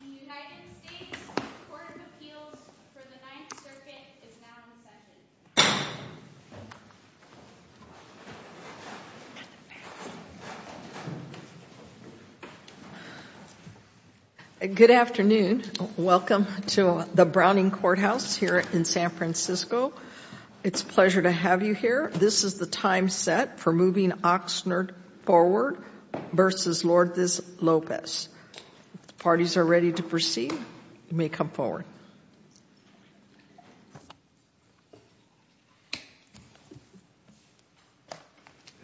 The United States Court of Appeals for the Ninth Circuit is now in session. Good afternoon. Welcome to the Browning Courthouse here in San Francisco. It's a pleasure to have you here. This is the time set for moving Oxnard Forward v. Lourdes Lopez. If the parties are ready to proceed, you may come forward.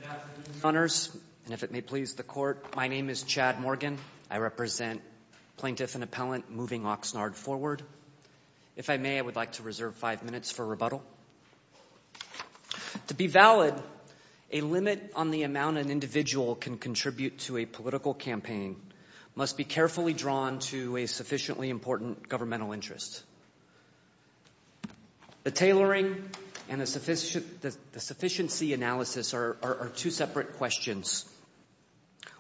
Good afternoon, Your Honors, and if it may please the Court, my name is Chad Morgan. I represent Plaintiff and Appellant Moving Oxnard Forward. If I may, I would like to reserve five minutes for rebuttal. To be valid, a limit on the amount an individual can contribute to a political campaign must be carefully drawn to a sufficiently important governmental interest. The tailoring and the sufficiency analysis are two separate questions,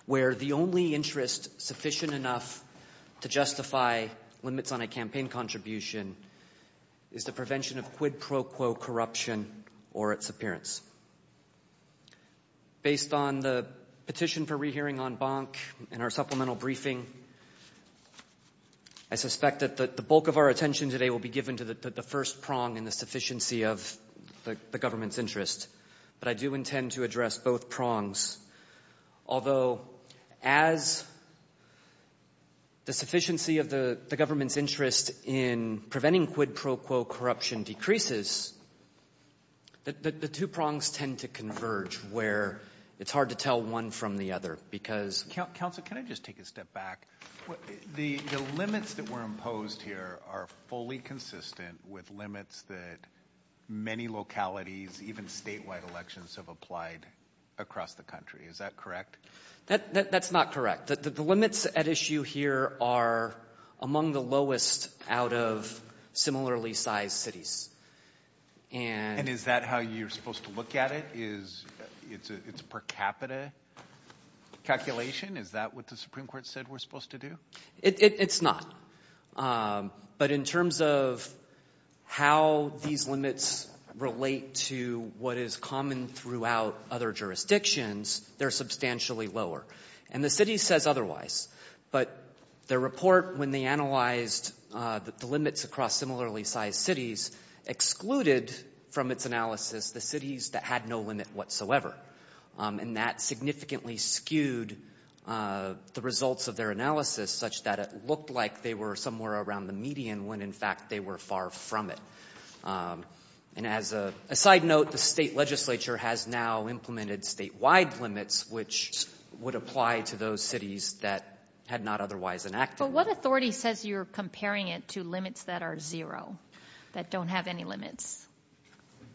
where the only interest sufficient enough to justify limits on a campaign contribution is the prevention of quid pro quo corruption or its appearance. Based on the petition for rehearing en banc and our supplemental briefing, I suspect that the bulk of our attention today will be given to the first prong in the sufficiency of the government's interest, but I do intend to address both prongs. Although, as the sufficiency of the government's interest in preventing quid pro quo corruption decreases, the two prongs tend to converge where it's hard to tell one from the other because... Counsel, can I just take a step back? The limits that were imposed here are fully consistent with limits that many localities, even statewide elections have applied across the country. Is that correct? That's not correct. The limits at issue here are among the lowest out of similarly sized cities. And is that how you're supposed to look at it? It's per capita calculation? Is that what the Supreme Court said we're supposed to do? It's not. But in terms of how these limits relate to what is common throughout other jurisdictions, they're substantially lower. And the city says otherwise. But their report, when they analyzed the limits across similarly sized cities, excluded from its analysis the cities that had no limit whatsoever. And that significantly skewed the results of their analysis, such that it looked like they were somewhere around the median when, in fact, they were far from it. And as a side note, the state legislature has now implemented statewide limits, which would apply to those cities that had not otherwise enacted. But what authority says you're comparing it to limits that are zero, that don't have any limits?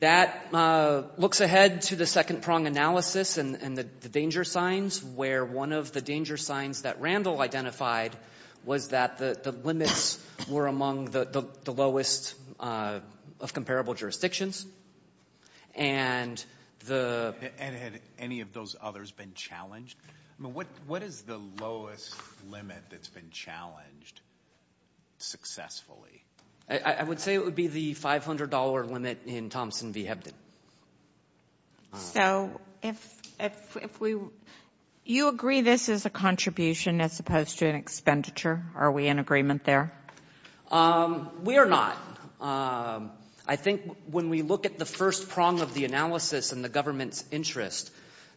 That looks ahead to the second prong analysis and the danger signs, where one of the danger signs that Randall identified was that the limits were among the lowest of comparable jurisdictions. And had any of those others been challenged? I mean, what is the lowest limit that's been challenged successfully? I would say it would be the $500 limit in Thompson v. Hebden. So if we – you agree this is a contribution as opposed to an expenditure? Are we in agreement there? We are not. I think when we look at the first prong of the analysis and the government's interest,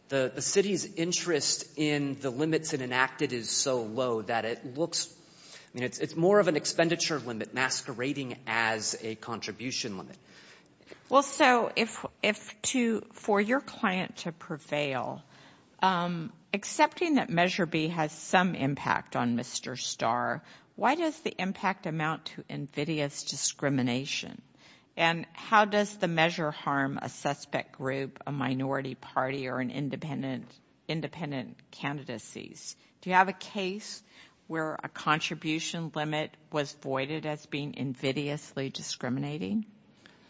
the city's interest in the limits it enacted is so low that it looks – I mean, it's more of an expenditure limit masquerading as a contribution limit. Well, so if to – for your client to prevail, accepting that Measure B has some impact on Mr. Starr, why does the impact amount to invidious discrimination? And how does the measure harm a suspect group, a minority party, or an independent – independent candidacies? Do you have a case where a contribution limit was voided as being invidiously discriminating?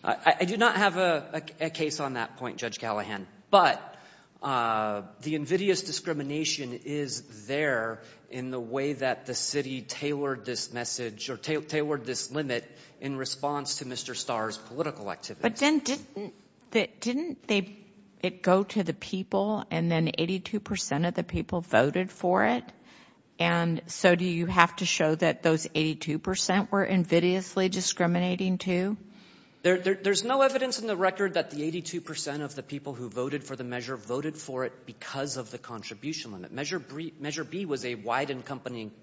I do not have a case on that point, Judge Callahan. But the invidious discrimination is there in the way that the city tailored this message or tailored this limit in response to Mr. Starr's political activities. Didn't it go to the people and then 82 percent of the people voted for it? And so do you have to show that those 82 percent were invidiously discriminating too? There's no evidence in the record that the 82 percent of the people who voted for the measure voted for it because of the contribution limit. Measure B was a wide-encompassing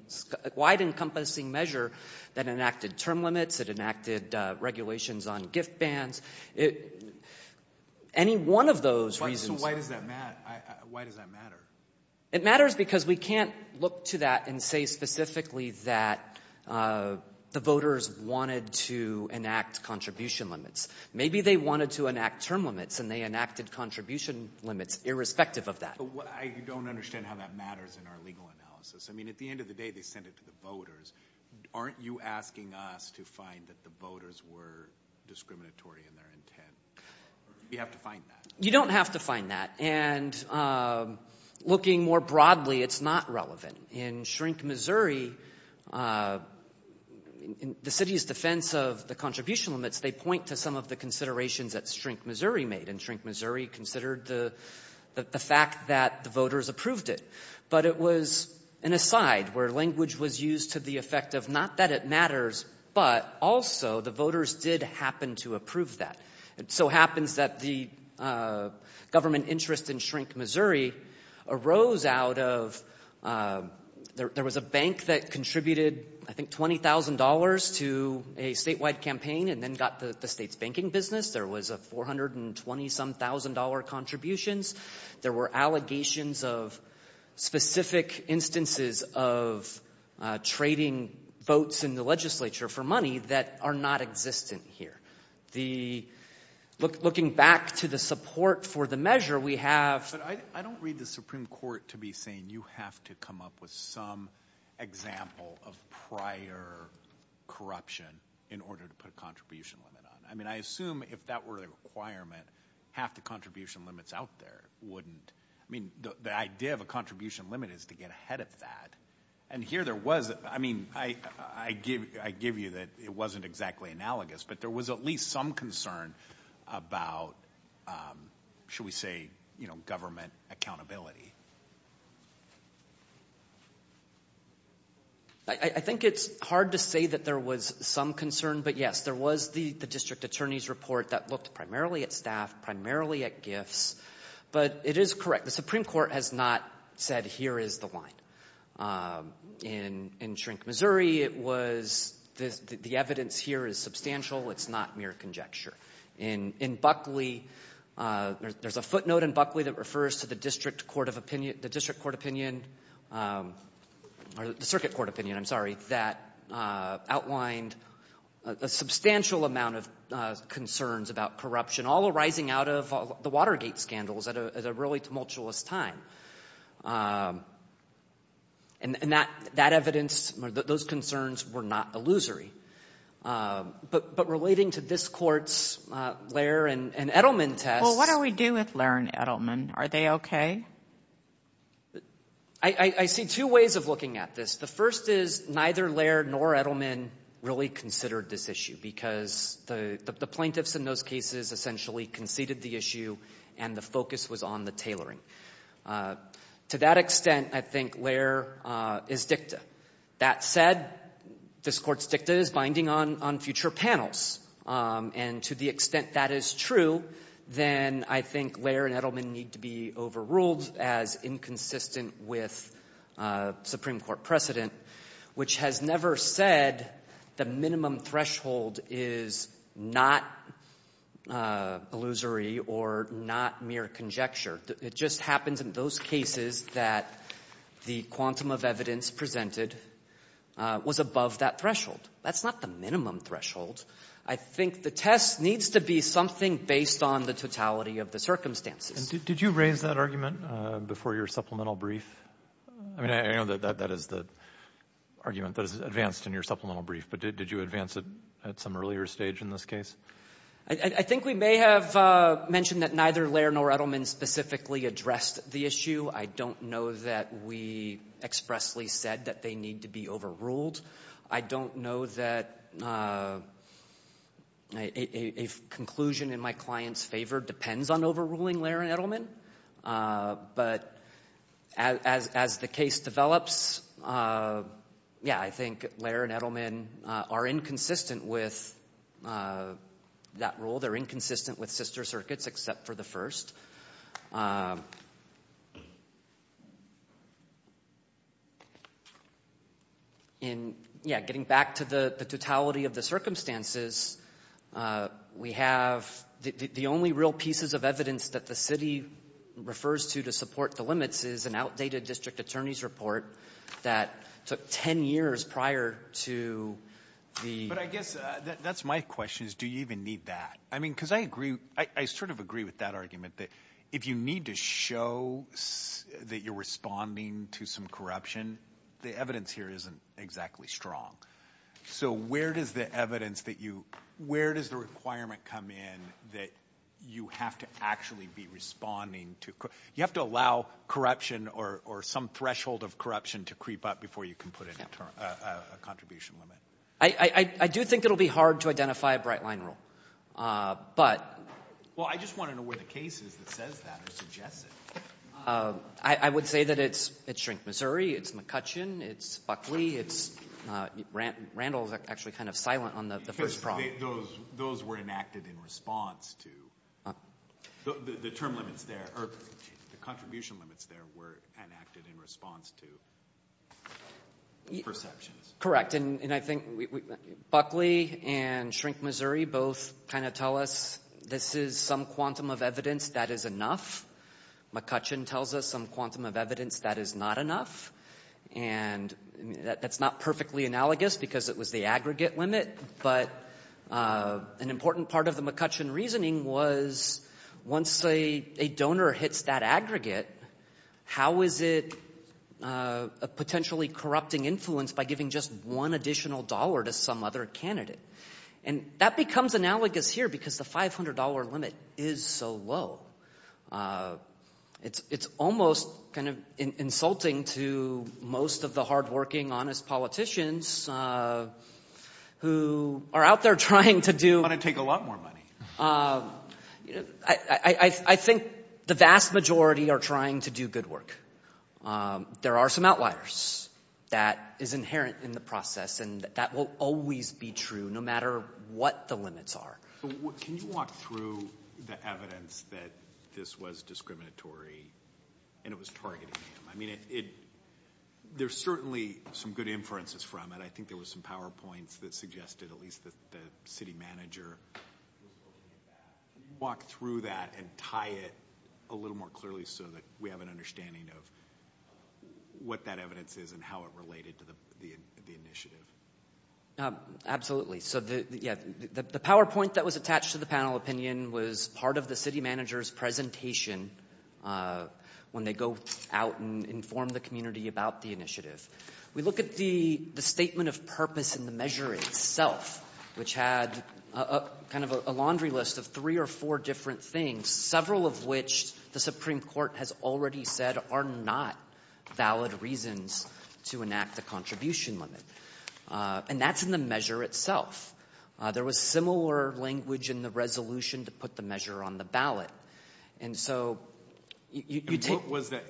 measure that enacted term limits. It enacted regulations on gift bans. Any one of those reasons— So why does that matter? It matters because we can't look to that and say specifically that the voters wanted to enact contribution limits. Maybe they wanted to enact term limits, and they enacted contribution limits irrespective of that. But I don't understand how that matters in our legal analysis. I mean, at the end of the day, they sent it to the voters. Aren't you asking us to find that the voters were discriminatory in their intent? You have to find that. You don't have to find that. And looking more broadly, it's not relevant. In Shrink, Missouri, the city's defense of the contribution limits, they point to some of the considerations that Shrink, Missouri made, and Shrink, Missouri considered the fact that the voters approved it. But it was an aside where language was used to the effect of not that it matters, but also the voters did happen to approve that. It so happens that the government interest in Shrink, Missouri arose out of— there was a bank that contributed, I think, $20,000 to a statewide campaign and then got the state's banking business. There was a $420-some-thousand contributions. There were allegations of specific instances of trading votes in the legislature for money that are not existent here. Looking back to the support for the measure, we have— But I don't read the Supreme Court to be saying you have to come up with some example of prior corruption in order to put a contribution limit on it. I mean, I assume if that were the requirement, half the contribution limits out there wouldn't— I mean, the idea of a contribution limit is to get ahead of that. And here there was—I mean, I give you that it wasn't exactly analogous, but there was at least some concern about, shall we say, government accountability. I think it's hard to say that there was some concern, but, yes, there was the district attorney's report that looked primarily at staff, primarily at gifts. But it is correct. The Supreme Court has not said here is the line. In Shrink, Missouri, it was the evidence here is substantial. It's not mere conjecture. In Buckley, there's a footnote in Buckley that refers to the district court of opinion— the district court opinion—or the circuit court opinion, I'm sorry, that outlined a substantial amount of concerns about corruption, all arising out of the Watergate scandals at a really tumultuous time. And that evidence, those concerns were not illusory. But relating to this Court's Lehr and Edelman tests— Well, what do we do with Lehr and Edelman? Are they okay? I see two ways of looking at this. The first is neither Lehr nor Edelman really considered this issue because the plaintiffs in those cases essentially conceded the issue, and the focus was on the tailoring. To that extent, I think Lehr is dicta. That said, this Court's dicta is binding on future panels. And to the extent that is true, then I think Lehr and Edelman need to be overruled as inconsistent with Supreme Court precedent, which has never said the minimum threshold is not illusory or not mere conjecture. It just happens in those cases that the quantum of evidence presented was above that threshold. That's not the minimum threshold. I think the test needs to be something based on the totality of the circumstances. Did you raise that argument before your supplemental brief? I mean, I know that that is the argument that is advanced in your supplemental brief, but did you advance it at some earlier stage in this case? I think we may have mentioned that neither Lehr nor Edelman specifically addressed the issue. I don't know that we expressly said that they need to be overruled. I don't know that a conclusion in my client's favor depends on overruling Lehr and Edelman. But as the case develops, yeah, I think Lehr and Edelman are inconsistent with that rule. They're inconsistent with sister circuits except for the first. And, yeah, getting back to the totality of the circumstances, we have the only real pieces of evidence that the city refers to to support the limits is an outdated district attorney's report that took ten years prior to the— But I guess that's my question is do you even need that? I mean, because I agree. I sort of agree with that argument that if you need to show that you're responding to some corruption, the evidence here isn't exactly strong. So where does the evidence that you—where does the requirement come in that you have to actually be responding to— you have to allow corruption or some threshold of corruption to creep up before you can put in a contribution limit? I do think it will be hard to identify a bright-line rule, but— Well, I just want to know where the case is that says that or suggests it. I would say that it's Shrink, Missouri. It's McCutcheon. It's Buckley. It's—Randall's actually kind of silent on the first problem. Those were enacted in response to—the term limits there or the contribution limits there were enacted in response to perceptions. Correct, and I think Buckley and Shrink, Missouri both kind of tell us this is some quantum of evidence that is enough. McCutcheon tells us some quantum of evidence that is not enough. And that's not perfectly analogous because it was the aggregate limit, but an important part of the McCutcheon reasoning was once a donor hits that aggregate, how is it potentially corrupting influence by giving just one additional dollar to some other candidate? And that becomes analogous here because the $500 limit is so low. It's almost kind of insulting to most of the hardworking, honest politicians who are out there trying to do— They're going to take a lot more money. I think the vast majority are trying to do good work. There are some outliers that is inherent in the process, and that will always be true no matter what the limits are. Can you walk through the evidence that this was discriminatory and it was targeting him? I mean, there's certainly some good inferences from it. I think there were some PowerPoints that suggested at least that the city manager was looking at that. Can you walk through that and tie it a little more clearly so that we have an understanding of what that evidence is and how it related to the initiative? Absolutely. The PowerPoint that was attached to the panel opinion was part of the city manager's presentation when they go out and inform the community about the initiative. We look at the statement of purpose in the measure itself, which had kind of a laundry list of three or four different things, several of which the Supreme Court has already said are not valid reasons to enact the contribution limit. And that's in the measure itself. There was similar language in the resolution to put the measure on the ballot. What was that?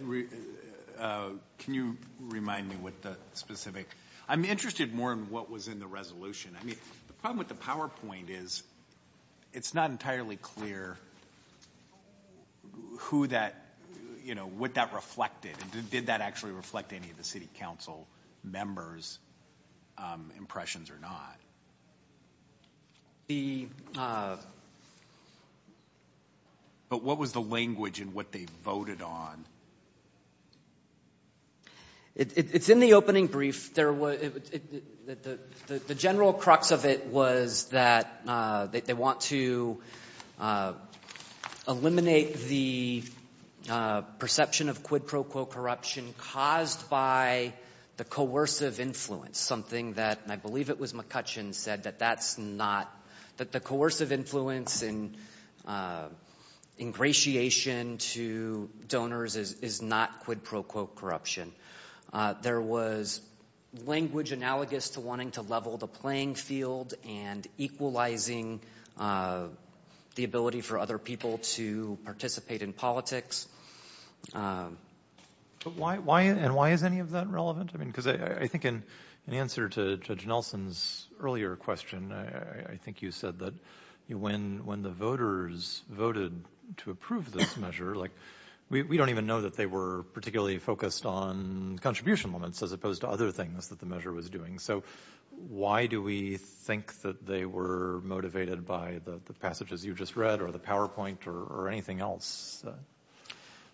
Can you remind me what the specific? I'm interested more in what was in the resolution. I mean, the problem with the PowerPoint is it's not entirely clear what that reflected and did that actually reflect any of the city council members' impressions or not. But what was the language in what they voted on? It's in the opening brief. The general crux of it was that they want to eliminate the perception of quid pro quo corruption caused by the coercive influence, something that, and I believe it was McCutcheon said, that the coercive influence and ingratiation to donors is not quid pro quo corruption. There was language analogous to wanting to level the playing field and equalizing the ability for other people to participate in politics. And why is any of that relevant? I mean, because I think in answer to Judge Nelson's earlier question, I think you said that when the voters voted to approve this measure, we don't even know that they were particularly focused on contribution limits as opposed to other things that the measure was doing. So why do we think that they were motivated by the passages you just read or the PowerPoint or anything else?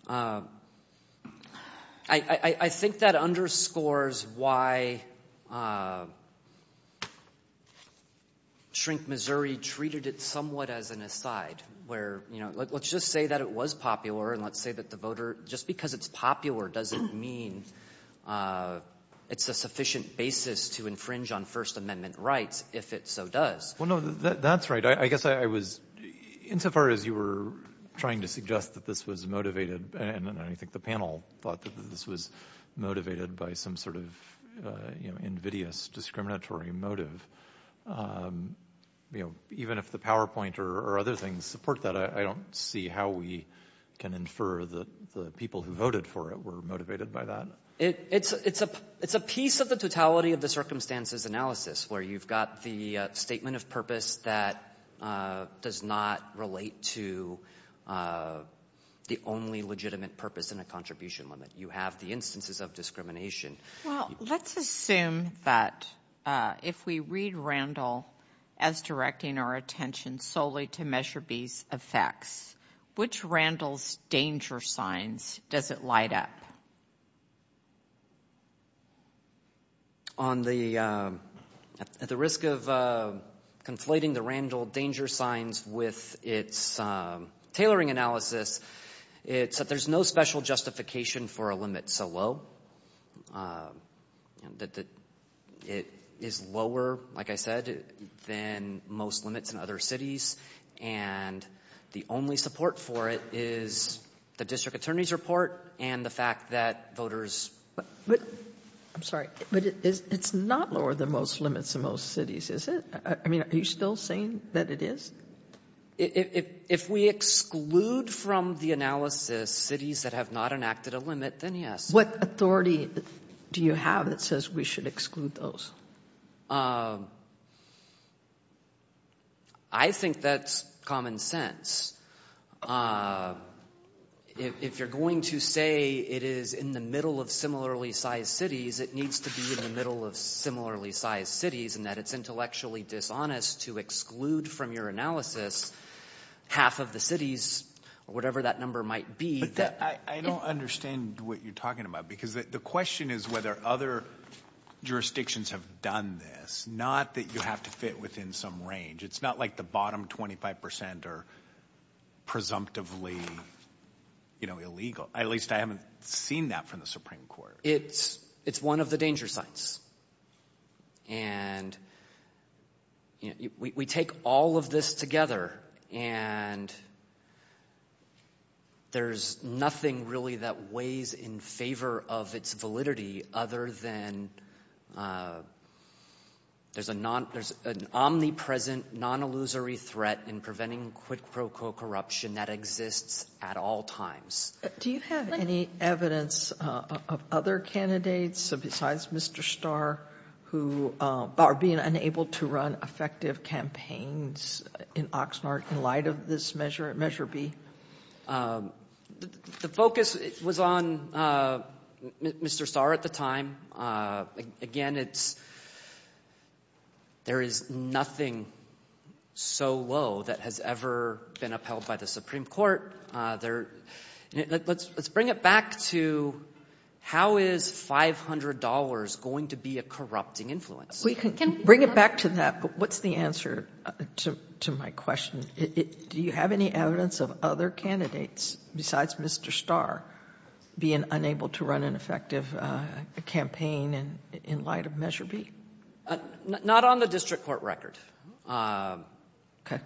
I think that underscores why Shrink Missouri treated it somewhat as an aside, where let's just say that it was popular and let's say that the voter, just because it's popular doesn't mean it's a sufficient basis to infringe on First Amendment rights, if it so does. Well, no, that's right. I guess I was, insofar as you were trying to suggest that this was motivated, and I think the panel thought that this was motivated by some sort of invidious discriminatory motive, even if the PowerPoint or other things support that, I don't see how we can infer that the people who voted for it were motivated by that. It's a piece of the totality of the circumstances analysis where you've got the statement of purpose that does not relate to the only legitimate purpose in a contribution limit. You have the instances of discrimination. Well, let's assume that if we read Randall as directing our attention solely to Measure B's effects, which Randall's danger signs does it light up? At the risk of conflating the Randall danger signs with its tailoring analysis, it's that there's no special justification for a limit so low, that it is lower, like I said, than most limits in other cities, and the only support for it is the district attorney's report and the fact that voters— I'm sorry, but it's not lower than most limits in most cities, is it? I mean, are you still saying that it is? If we exclude from the analysis cities that have not enacted a limit, then yes. What authority do you have that says we should exclude those? Well, I think that's common sense. If you're going to say it is in the middle of similarly sized cities, it needs to be in the middle of similarly sized cities, and that it's intellectually dishonest to exclude from your analysis half of the cities, or whatever that number might be. I don't understand what you're talking about, because the question is whether other jurisdictions have done this, not that you have to fit within some range. It's not like the bottom 25 percent are presumptively illegal. At least I haven't seen that from the Supreme Court. It's one of the danger signs. And we take all of this together, and there's nothing really that weighs in favor of its validity other than there's an omnipresent, non-illusory threat in preventing quid pro quo corruption that exists at all times. Do you have any evidence of other candidates, besides Mr. Starr, who are being unable to run effective campaigns in Oxnard in light of this Measure B? The focus was on Mr. Starr at the time. Again, there is nothing so low that has ever been upheld by the Supreme Court. Let's bring it back to how is $500 going to be a corrupting influence? We can bring it back to that, but what's the answer to my question? Do you have any evidence of other candidates, besides Mr. Starr, being unable to run an effective campaign in light of Measure B? Not on the district court record. Okay.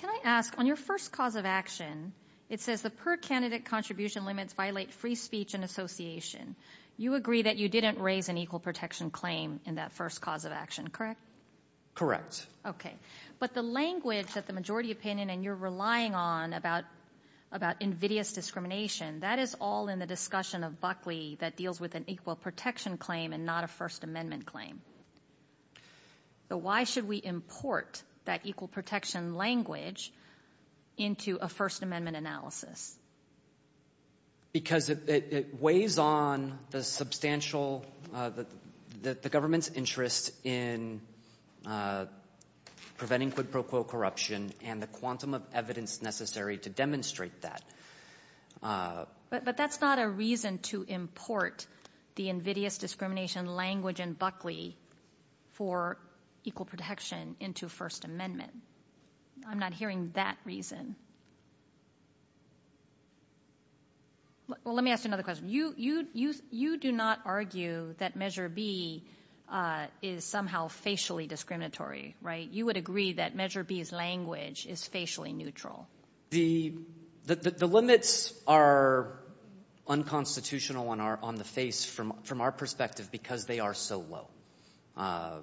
Can I ask, on your first cause of action, it says the per-candidate contribution limits violate free speech and association. You agree that you didn't raise an equal protection claim in that first cause of action, correct? Correct. Okay. But the language that the majority opinion and you're relying on about invidious discrimination, that is all in the discussion of Buckley that deals with an equal protection claim and not a First Amendment claim. Why should we import that equal protection language into a First Amendment analysis? Because it weighs on the substantial, the government's interest in preventing quid pro quo corruption and the quantum of evidence necessary to demonstrate that. But that's not a reason to import the invidious discrimination language in Buckley for equal protection into First Amendment. I'm not hearing that reason. Well, let me ask you another question. You do not argue that Measure B is somehow facially discriminatory, right? You would agree that Measure B's language is facially neutral. The limits are unconstitutional on the face from our perspective because they are so low.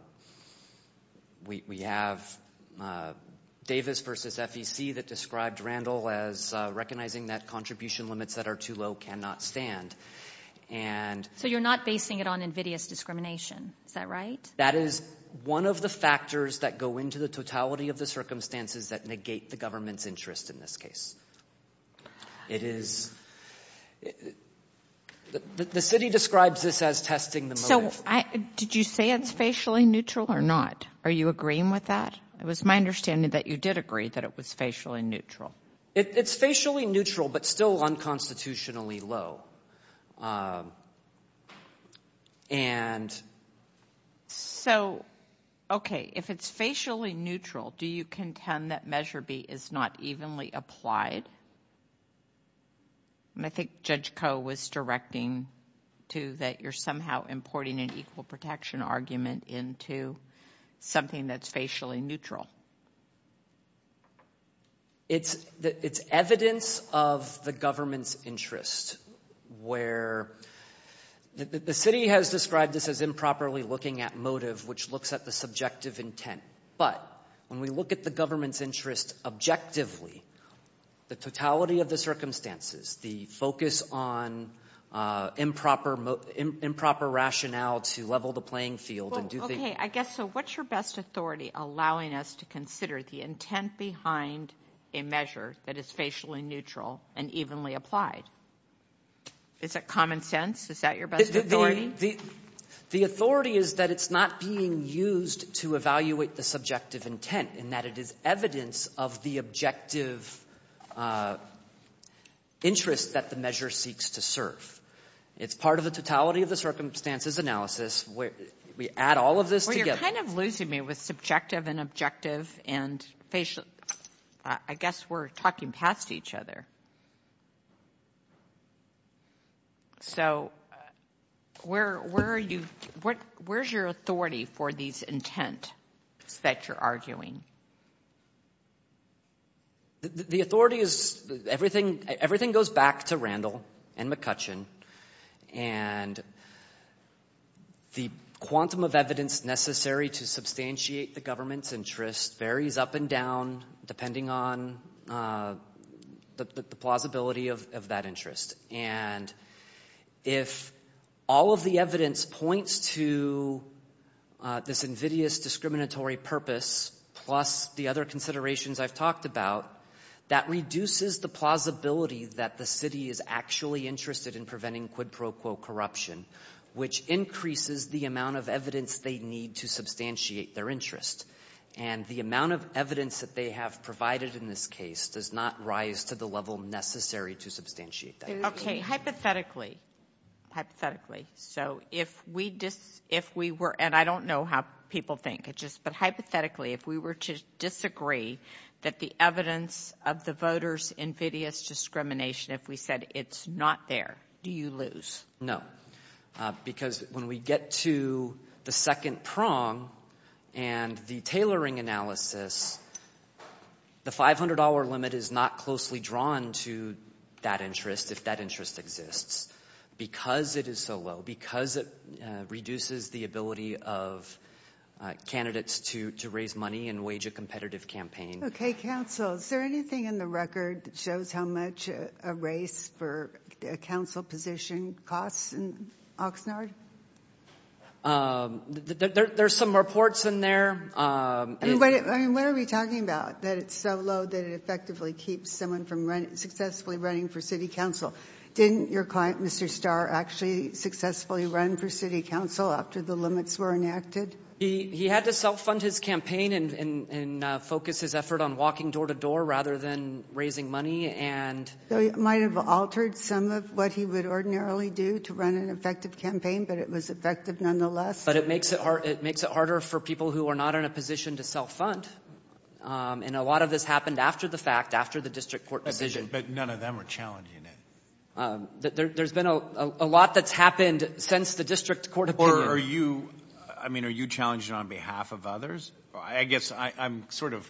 We have Davis versus FEC that described Randall as recognizing that contribution limits that are too low cannot stand. So you're not basing it on invidious discrimination. Is that right? That is one of the factors that go into the totality of the circumstances that negate the government's interest in this case. The city describes this as testing the motive. So did you say it's facially neutral or not? Are you agreeing with that? It was my understanding that you did agree that it was facially neutral. It's facially neutral but still unconstitutionally low. So, okay, if it's facially neutral, do you contend that Measure B is not evenly applied? I think Judge Koh was directing to that you're somehow importing an equal protection argument into something that's facially neutral. It's evidence of the government's interest where the city has described this as improperly looking at motive which looks at the subjective intent. But when we look at the government's interest objectively, the totality of the circumstances, the focus on improper rationale to level the playing field and do things... Okay, I guess, so what's your best authority allowing us to consider the intent behind a measure that is facially neutral and evenly applied? Is it common sense? Is that your best authority? The authority is that it's not being used to evaluate the subjective intent and that it is evidence of the objective interest that the measure seeks to serve. It's part of the totality of the circumstances analysis where we add all of this together. Well, you're kind of losing me with subjective and objective and facial. I guess we're talking past each other. So where are you – where's your authority for these intents that you're arguing? The authority is – everything goes back to Randall and McCutcheon. And the quantum of evidence necessary to substantiate the government's interest varies up and down depending on the plausibility of that interest. And if all of the evidence points to this invidious discriminatory purpose plus the other considerations I've talked about, that reduces the plausibility that the city is actually interested in preventing quid pro quo corruption, which increases the amount of evidence they need to substantiate their interest. And the amount of evidence that they have provided in this case does not rise to the level necessary to substantiate that interest. Okay. Hypothetically, hypothetically, so if we were – and I don't know how people think. But hypothetically, if we were to disagree that the evidence of the voters' invidious discrimination, if we said it's not there, do you lose? No, because when we get to the second prong and the tailoring analysis, the $500 limit is not closely drawn to that interest if that interest exists. Because it is so low, because it reduces the ability of candidates to raise money and wage a competitive campaign. Okay. Counsel, is there anything in the record that shows how much a race for a council position costs in Oxnard? There's some reports in there. I mean, what are we talking about, that it's so low that it effectively keeps someone from successfully running for city council? Didn't your client, Mr. Starr, actually successfully run for city council after the limits were enacted? He had to self-fund his campaign and focus his effort on walking door-to-door rather than raising money. So it might have altered some of what he would ordinarily do to run an effective campaign, but it was effective nonetheless? But it makes it harder for people who are not in a position to self-fund. And a lot of this happened after the fact, after the district court decision. But none of them are challenging it. There's been a lot that's happened since the district court opinion. Are you challenging it on behalf of others? I guess I'm sort of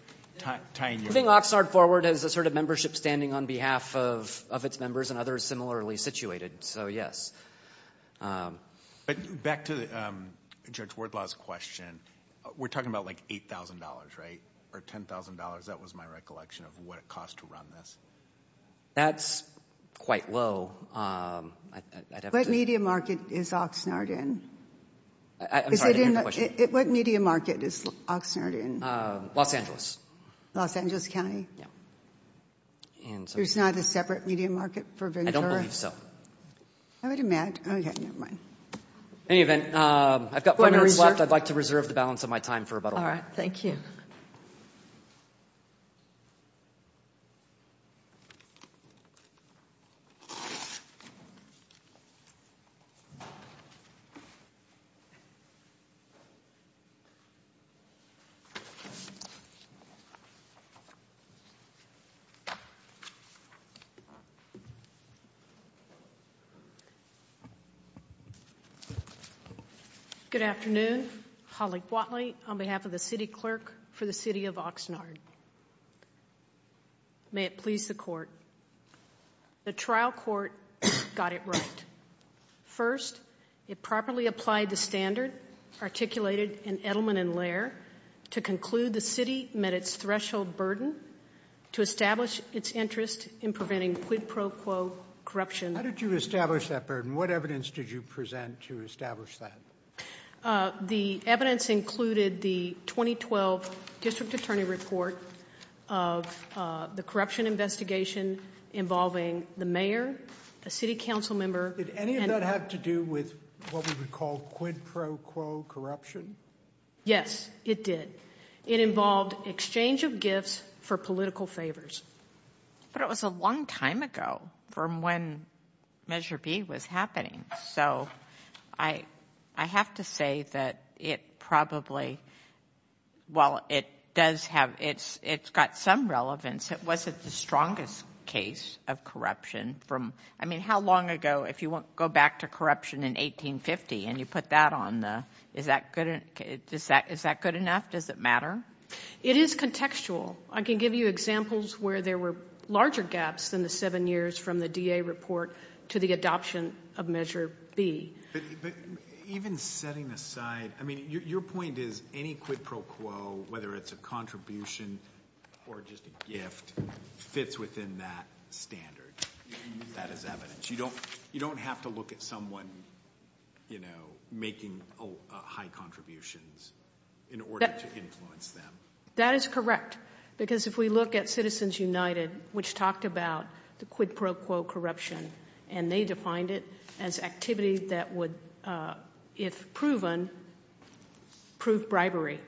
tying you in. Moving Oxnard forward has a sort of membership standing on behalf of its members and others similarly situated, so yes. But back to Judge Wardlaw's question, we're talking about like $8,000, right, or $10,000? That was my recollection of what it costs to run this. That's quite low. What media market is Oxnard in? I'm sorry, I didn't hear the question. What media market is Oxnard in? Los Angeles. Los Angeles County? Yeah. There's not a separate media market for Ventura? I don't believe so. I would imagine. Okay, never mind. In any event, I've got five minutes left. I'd like to reserve the balance of my time for rebuttal. All right, thank you. Thank you. Good afternoon. Holly Whatley on behalf of the city clerk for the city of Oxnard. May it please the court. The trial court got it right. First, it properly applied the standard articulated in Edelman and Lair to conclude the city met its threshold burden to establish its interest in preventing quid pro quo corruption. How did you establish that burden? What evidence did you present to establish that? The evidence included the 2012 district attorney report of the corruption investigation involving the mayor, a city council member. Did any of that have to do with what we would call quid pro quo corruption? Yes, it did. It involved exchange of gifts for political favors. But it was a long time ago from when Measure B was happening. So I have to say that it probably, well, it does have, it's got some relevance. It wasn't the strongest case of corruption from, I mean, how long ago, if you go back to corruption in 1850 and you put that on the, is that good enough? Does it matter? It is contextual. I can give you examples where there were larger gaps than the seven years from the DA report to the adoption of Measure B. But even setting aside, I mean, your point is any quid pro quo, whether it's a contribution or just a gift, fits within that standard. That is evidence. You don't have to look at someone, you know, making high contributions in order to influence them. That is correct. Because if we look at Citizens United, which talked about the quid pro quo corruption, and they defined it as activity that would, if proven, prove bribery.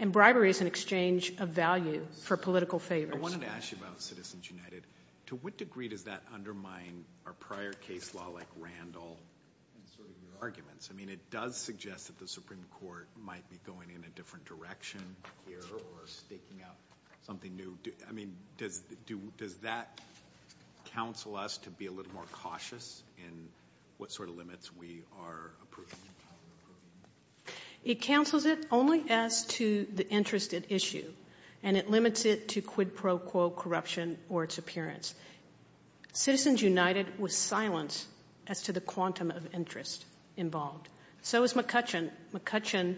And bribery is an exchange of value for political favors. I wanted to ask you about Citizens United. To what degree does that undermine our prior case law like Randall and sort of your arguments? I mean, it does suggest that the Supreme Court might be going in a different direction here or staking out something new. I mean, does that counsel us to be a little more cautious in what sort of limits we are approving? It counsels it only as to the interest at issue, and it limits it to quid pro quo corruption or its appearance. Citizens United was silent as to the quantum of interest involved. So was McCutcheon. McCutcheon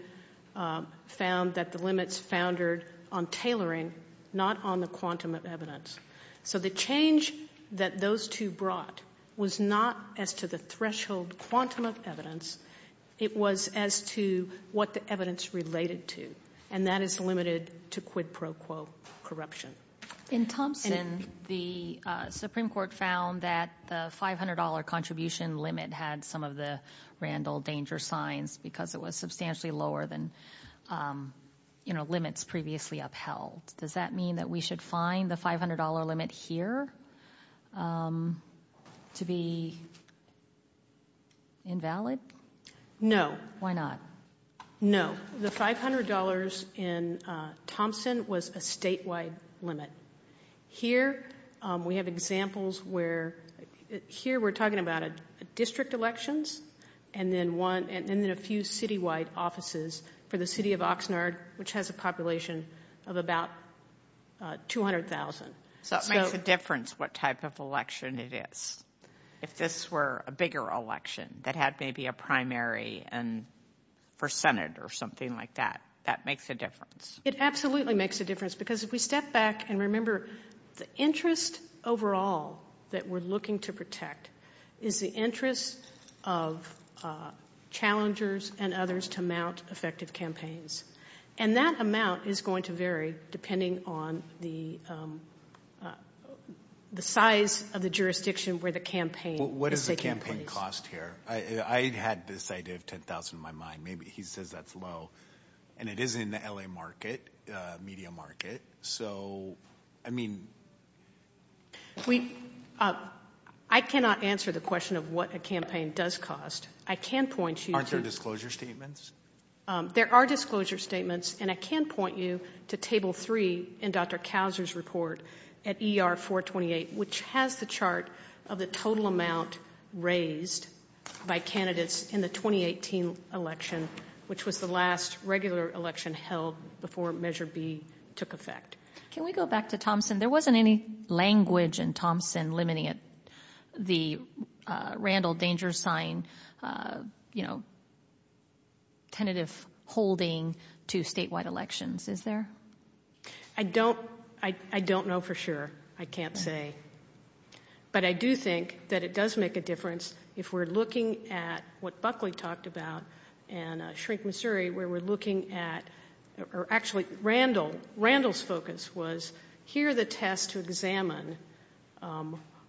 found that the limits foundered on tailoring, not on the quantum of evidence. So the change that those two brought was not as to the threshold quantum of evidence. It was as to what the evidence related to, and that is limited to quid pro quo corruption. In Thompson, the Supreme Court found that the $500 contribution limit had some of the Randall danger signs because it was substantially lower than limits previously upheld. Does that mean that we should find the $500 limit here to be invalid? No. Why not? No. The $500 in Thompson was a statewide limit. Here we have examples where here we're talking about district elections and then a few citywide offices for the city of Oxnard, which has a population of about 200,000. So it makes a difference what type of election it is. If this were a bigger election that had maybe a primary for Senate or something like that, that makes a difference. It absolutely makes a difference because if we step back and remember, the interest overall that we're looking to protect is the interest of challengers and others to mount effective campaigns. And that amount is going to vary depending on the size of the jurisdiction where the campaign is taking place. What does the campaign cost here? I had this idea of $10,000 in my mind. Maybe he says that's low, and it is in the L.A. market, media market. So, I mean— I cannot answer the question of what a campaign does cost. I can point you to— Aren't there disclosure statements? There are disclosure statements, and I can point you to Table 3 in Dr. Cowser's report at ER 428, which has the chart of the total amount raised by candidates in the 2018 election, which was the last regular election held before Measure B took effect. Can we go back to Thompson? There wasn't any language in Thompson limiting it, the Randall danger sign, you know, tentative holding to statewide elections, is there? I don't know for sure. I can't say. But I do think that it does make a difference if we're looking at what Buckley talked about and Shrink Missouri, where we're looking at—or actually, Randall. Randall's focus was here are the tests to examine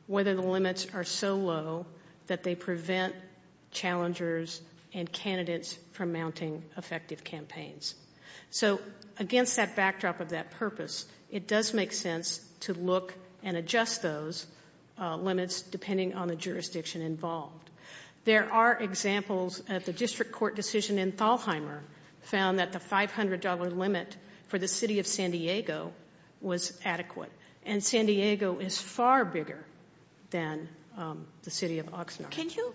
whether the limits are so low that they prevent challengers and candidates from mounting effective campaigns. So, against that backdrop of that purpose, it does make sense to look and adjust those limits, depending on the jurisdiction involved. There are examples of the district court decision in Thalheimer found that the $500 limit for the city of San Diego was adequate, and San Diego is far bigger than the city of Oxnard. Can you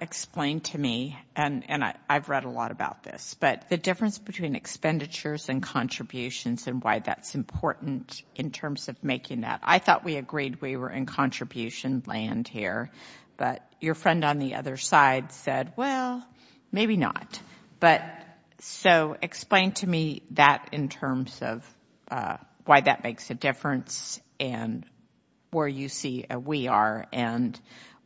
explain to me—and I've read a lot about this— but the difference between expenditures and contributions and why that's important in terms of making that. I thought we agreed we were in contribution land here, but your friend on the other side said, well, maybe not. So explain to me that in terms of why that makes a difference and where you see we are and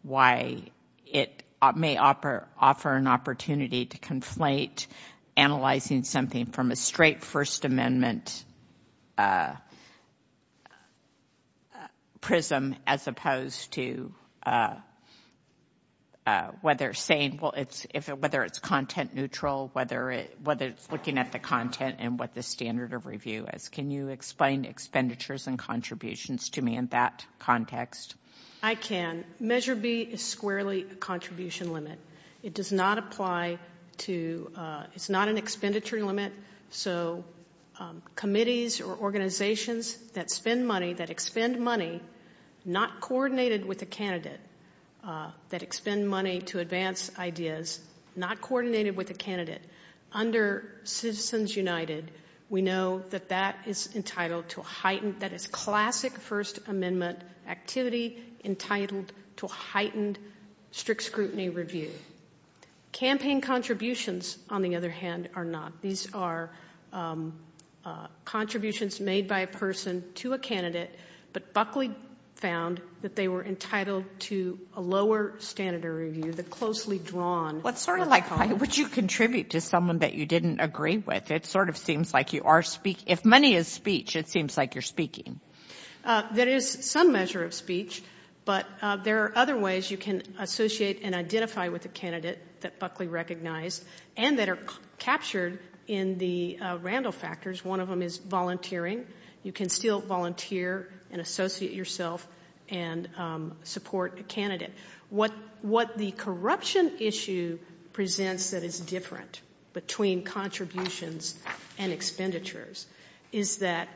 why it may offer an opportunity to conflate analyzing something from a straight First Amendment prism as opposed to whether it's content neutral, whether it's looking at the content and what the standard of review is. Can you explain expenditures and contributions to me in that context? I can. Measure B is squarely a contribution limit. It does not apply to—it's not an expenditure limit. So committees or organizations that spend money, that expend money, not coordinated with a candidate, that expend money to advance ideas, not coordinated with a candidate under Citizens United, we know that that is entitled to a heightened— that is classic First Amendment activity to a heightened strict scrutiny review. Campaign contributions, on the other hand, are not. These are contributions made by a person to a candidate, but Buckley found that they were entitled to a lower standard of review, the closely drawn— Well, it's sort of like how would you contribute to someone that you didn't agree with. It sort of seems like you are—if money is speech, it seems like you're speaking. There is some measure of speech, but there are other ways you can associate and identify with a candidate that Buckley recognized and that are captured in the Randall factors. One of them is volunteering. You can still volunteer and associate yourself and support a candidate. What the corruption issue presents that is different between contributions and expenditures is that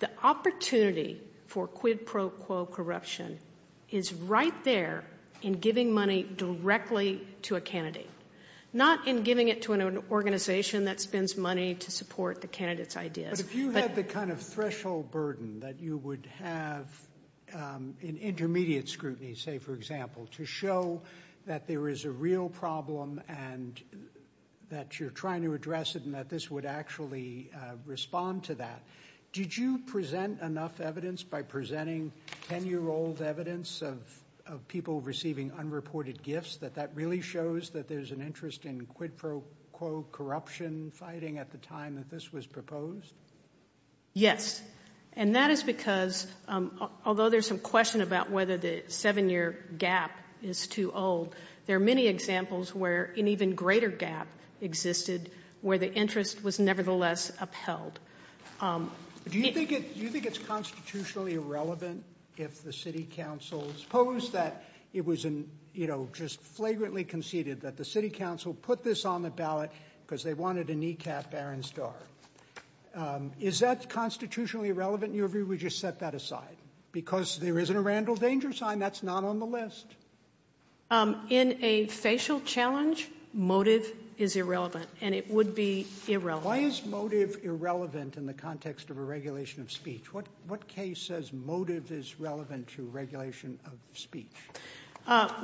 the opportunity for quid pro quo corruption is right there in giving money directly to a candidate, not in giving it to an organization that spends money to support the candidate's ideas. But if you had the kind of threshold burden that you would have in intermediate scrutiny, say, for example, to show that there is a real problem and that you're trying to address it and that this would actually respond to that, did you present enough evidence by presenting 10-year-old evidence of people receiving unreported gifts that that really shows that there's an interest in quid pro quo corruption fighting at the time that this was proposed? Yes, and that is because although there's some question about whether the 7-year gap is too old, there are many examples where an even greater gap existed where the interest was nevertheless upheld. Do you think it's constitutionally irrelevant if the city council supposed that it was just flagrantly conceded that the city council put this on the ballot because they wanted to kneecap Aaron Starr? Is that constitutionally irrelevant, or would you set that aside? Because there isn't a Randall danger sign. That's not on the list. In a facial challenge, motive is irrelevant, and it would be irrelevant. Why is motive irrelevant in the context of a regulation of speech? What case says motive is relevant to regulation of speech?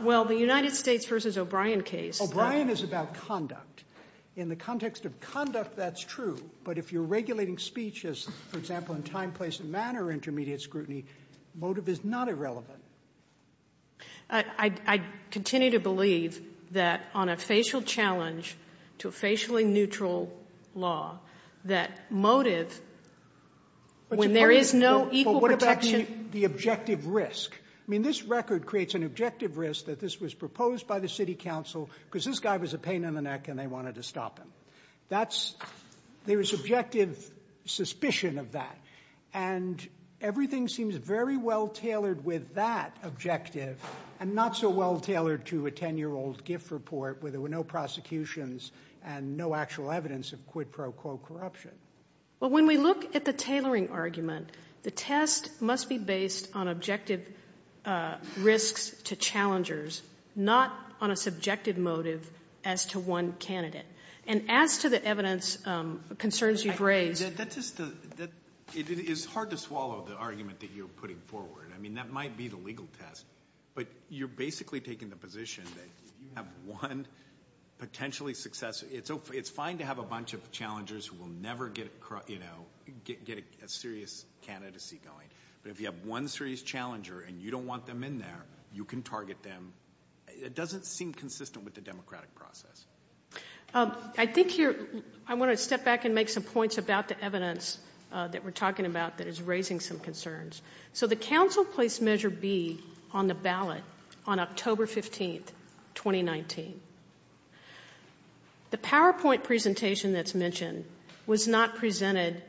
Well, the United States v. O'Brien case. O'Brien is about conduct. In the context of conduct, that's true. But if you're regulating speech, for example, in time, place, and manner intermediate scrutiny, motive is not irrelevant. I continue to believe that on a facial challenge to a facially neutral law, that motive, when there is no equal protection... But what about the objective risk? I mean, this record creates an objective risk that this was proposed by the city council because this guy was a pain in the neck and they wanted to stop him. There is objective suspicion of that. And everything seems very well tailored with that objective and not so well tailored to a 10-year-old gift report where there were no prosecutions and no actual evidence of quid pro quo corruption. Well, when we look at the tailoring argument, the test must be based on objective risks to challengers, not on a subjective motive as to one candidate. And as to the evidence concerns you've raised... It is hard to swallow the argument that you're putting forward. I mean, that might be the legal test, but you're basically taking the position that if you have one potentially successful... It's fine to have a bunch of challengers who will never get a serious candidacy going, but if you have one serious challenger and you don't want them in there, you can target them. It doesn't seem consistent with the democratic process. I think you're... I want to step back and make some points about the evidence that we're talking about that is raising some concerns. So the council placed Measure B on the ballot on October 15, 2019. The PowerPoint presentation that's mentioned was not presented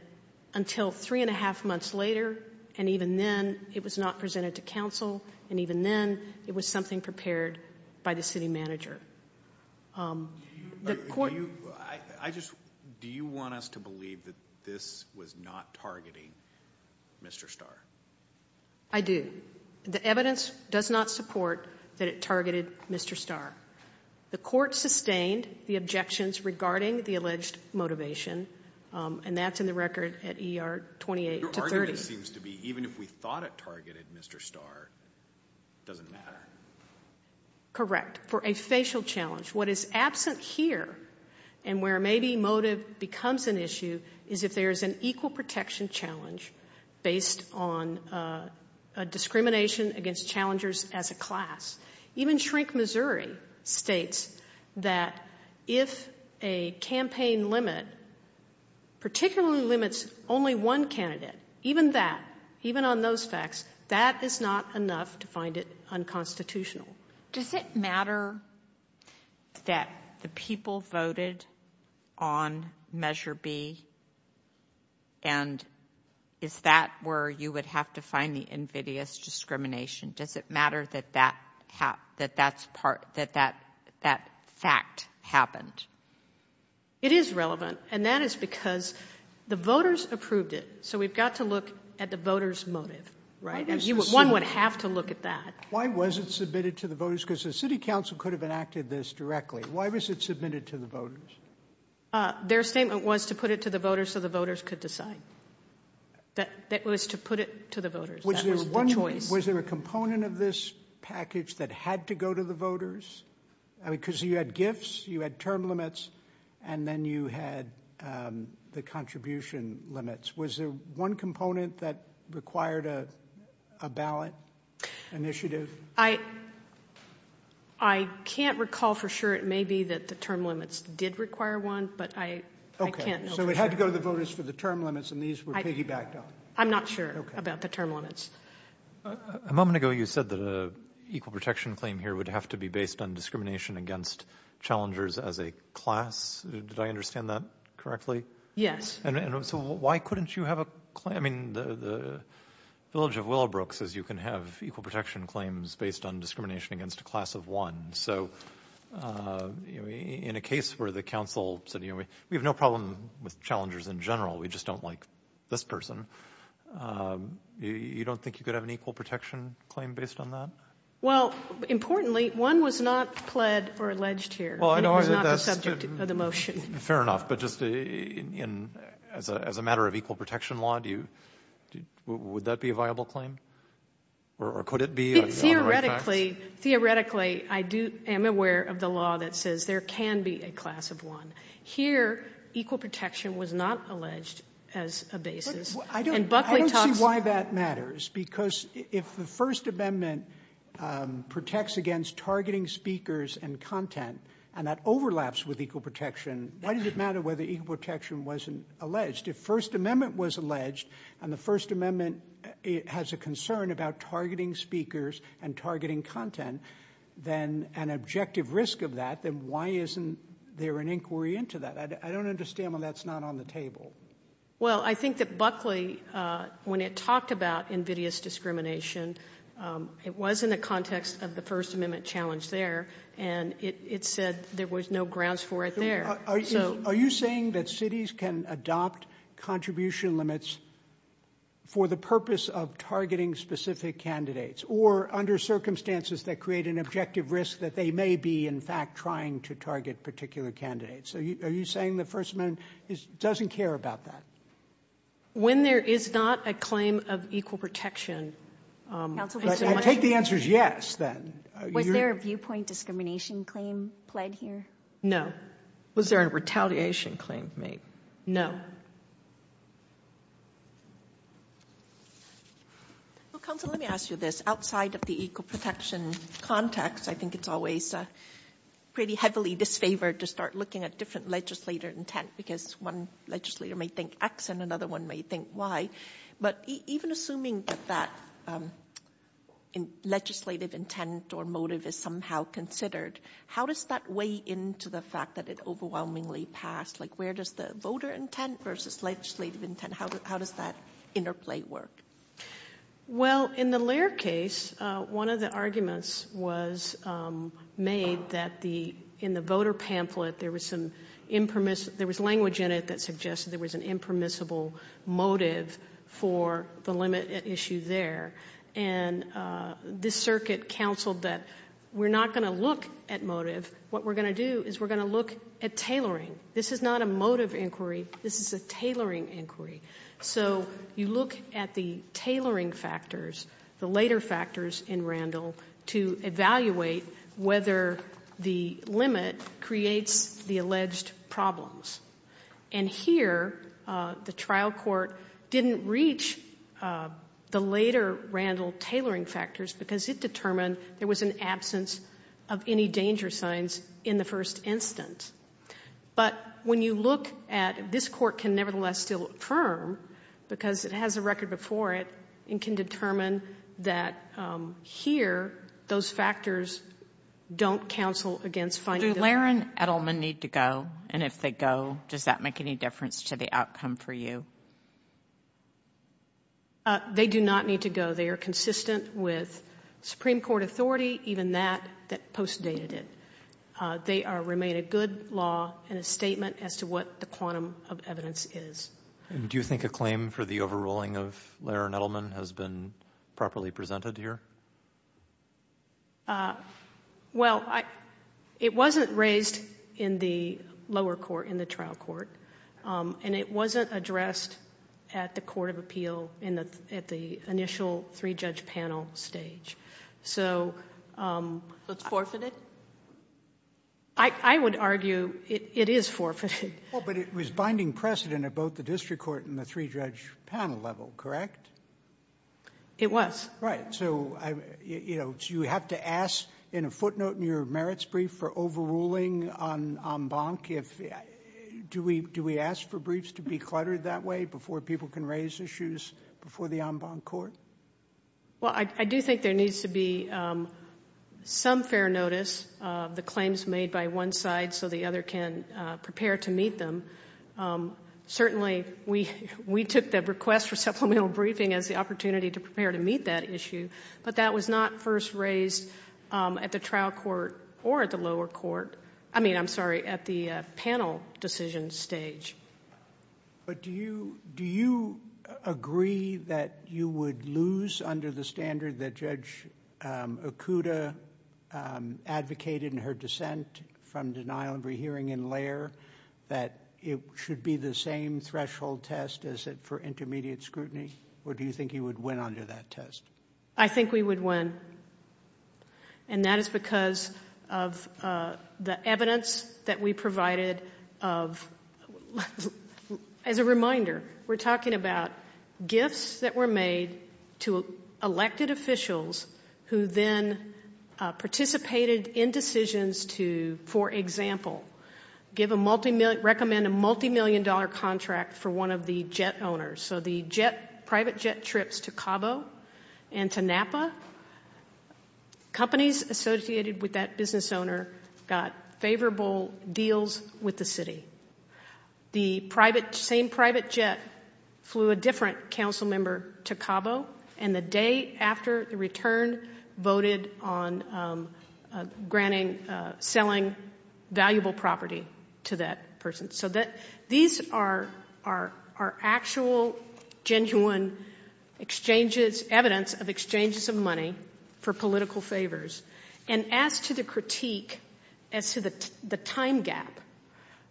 until three and a half months later, and even then it was not presented to council, and even then it was something prepared by the city manager. Do you want us to believe that this was not targeting Mr. Starr? I do. The evidence does not support that it targeted Mr. Starr. The court sustained the objections regarding the alleged motivation, and that's in the record at ER 28-30. Even if we thought it targeted Mr. Starr, it doesn't matter. Correct, for a facial challenge. What is absent here, and where maybe motive becomes an issue, is if there is an equal protection challenge based on a discrimination against challengers as a class. Even Shrink Missouri states that if a campaign limit particularly limits only one candidate, even that, even on those facts, that is not enough to find it unconstitutional. Does it matter that the people voted on Measure B, and is that where you would have to find the invidious discrimination? Does it matter that that fact happened? It is relevant, and that is because the voters approved it, so we've got to look at the voters' motive. One would have to look at that. Why was it submitted to the voters? Because the city council could have enacted this directly. Why was it submitted to the voters? Their statement was to put it to the voters so the voters could decide. It was to put it to the voters. Was there a component of this package that had to go to the voters? Because you had gifts, you had term limits, and then you had the contribution limits. Was there one component that required a ballot initiative? I can't recall for sure. It may be that the term limits did require one, but I can't know for sure. Okay, so it had to go to the voters for the term limits, and these were piggybacked on. I'm not sure about the term limits. A moment ago you said that an equal protection claim here would have to be based on discrimination against challengers as a class. Did I understand that correctly? So why couldn't you have a claim? I mean, the village of Willowbrook says you can have equal protection claims based on discrimination against a class of one. So in a case where the council said, we have no problem with challengers in general, we just don't like this person, you don't think you could have an equal protection claim based on that? Well, importantly, one was not pled or alleged here. It was not the subject of the motion. Fair enough, but just as a matter of equal protection law, would that be a viable claim? Or could it be? Theoretically, I am aware of the law that says there can be a class of one. Here, equal protection was not alleged as a basis. I don't see why that matters, because if the First Amendment protects against targeting speakers and content and that overlaps with equal protection, why does it matter whether equal protection wasn't alleged? If First Amendment was alleged and the First Amendment has a concern about targeting speakers and targeting content, then an objective risk of that, then why isn't there an inquiry into that? I don't understand why that's not on the table. Well, I think that Buckley, when it talked about invidious discrimination, it was in the context of the First Amendment challenge there, and it said there was no grounds for it there. Are you saying that cities can adopt contribution limits for the purpose of targeting specific candidates or under circumstances that create an objective risk that they may be, in fact, trying to target particular candidates? Are you saying the First Amendment doesn't care about that? When there is not a claim of equal protection... I take the answer as yes, then. Was there a viewpoint discrimination claim pled here? No. Was there a retaliation claim made? No. Counsel, let me ask you this. Outside of the equal protection context, I think it's always pretty heavily disfavored to start looking at different legislator intent because one legislator may think X and another one may think Y, but even assuming that that legislative intent or motive is somehow considered, how does that weigh into the fact that it overwhelmingly passed? Where does the voter intent versus legislative intent, how does that interplay work? Well, in the Lehr case, one of the arguments was made that in the voter pamphlet there was language in it that suggested there was an impermissible motive for the limit at issue there, and this circuit counseled that we're not going to look at motive. What we're going to do is we're going to look at tailoring. This is not a motive inquiry. This is a tailoring inquiry. So you look at the tailoring factors, the later factors in Randall, to evaluate whether the limit creates the alleged problems. And here the trial court didn't reach the later Randall tailoring factors because it determined there was an absence of any danger signs in the first instance. But when you look at this court can nevertheless still affirm because it has a record before it and can determine that here those factors don't counsel against finding the limit. Do Lehr and Edelman need to go? And if they go, does that make any difference to the outcome for you? They do not need to go. They are consistent with Supreme Court authority, even that that postdated it. They remain a good law and a statement as to what the quantum of evidence is. And do you think a claim for the overruling of Lehr and Edelman has been properly presented here? Well, it wasn't raised in the lower court, in the trial court, and it wasn't addressed at the court of appeal at the initial three-judge panel stage. So it's forfeited? I would argue it is forfeited. Well, but it was binding precedent at both the district court and the three-judge panel level, correct? It was. Right. So you have to ask in a footnote in your merits brief for overruling en banc. Do we ask for briefs to be cluttered that way before people can raise issues before the en banc court? Well, I do think there needs to be some fair notice of the claims made by one side so the other can prepare to meet them. Certainly, we took the request for supplemental briefing as the opportunity to prepare to meet that issue, but that was not first raised at the trial court or at the lower court. I mean, I'm sorry, at the panel decision stage. But do you agree that you would lose under the standard that Judge Okuda advocated in her dissent from denial of a hearing in Laird, that it should be the same threshold test as it for intermediate scrutiny, or do you think you would win under that test? I think we would win, and that is because of the evidence that we provided of, as a reminder, we're talking about gifts that were made to elected officials who then participated in decisions to, for example, recommend a multimillion-dollar contract for one of the jet owners. So the private jet trips to Cabo and to Napa, companies associated with that business owner got favorable deals with the city. The same private jet flew a different council member to Cabo, and the day after the return voted on selling valuable property to that person. So these are actual, genuine exchanges, evidence of exchanges of money for political favors. And as to the critique as to the time gap,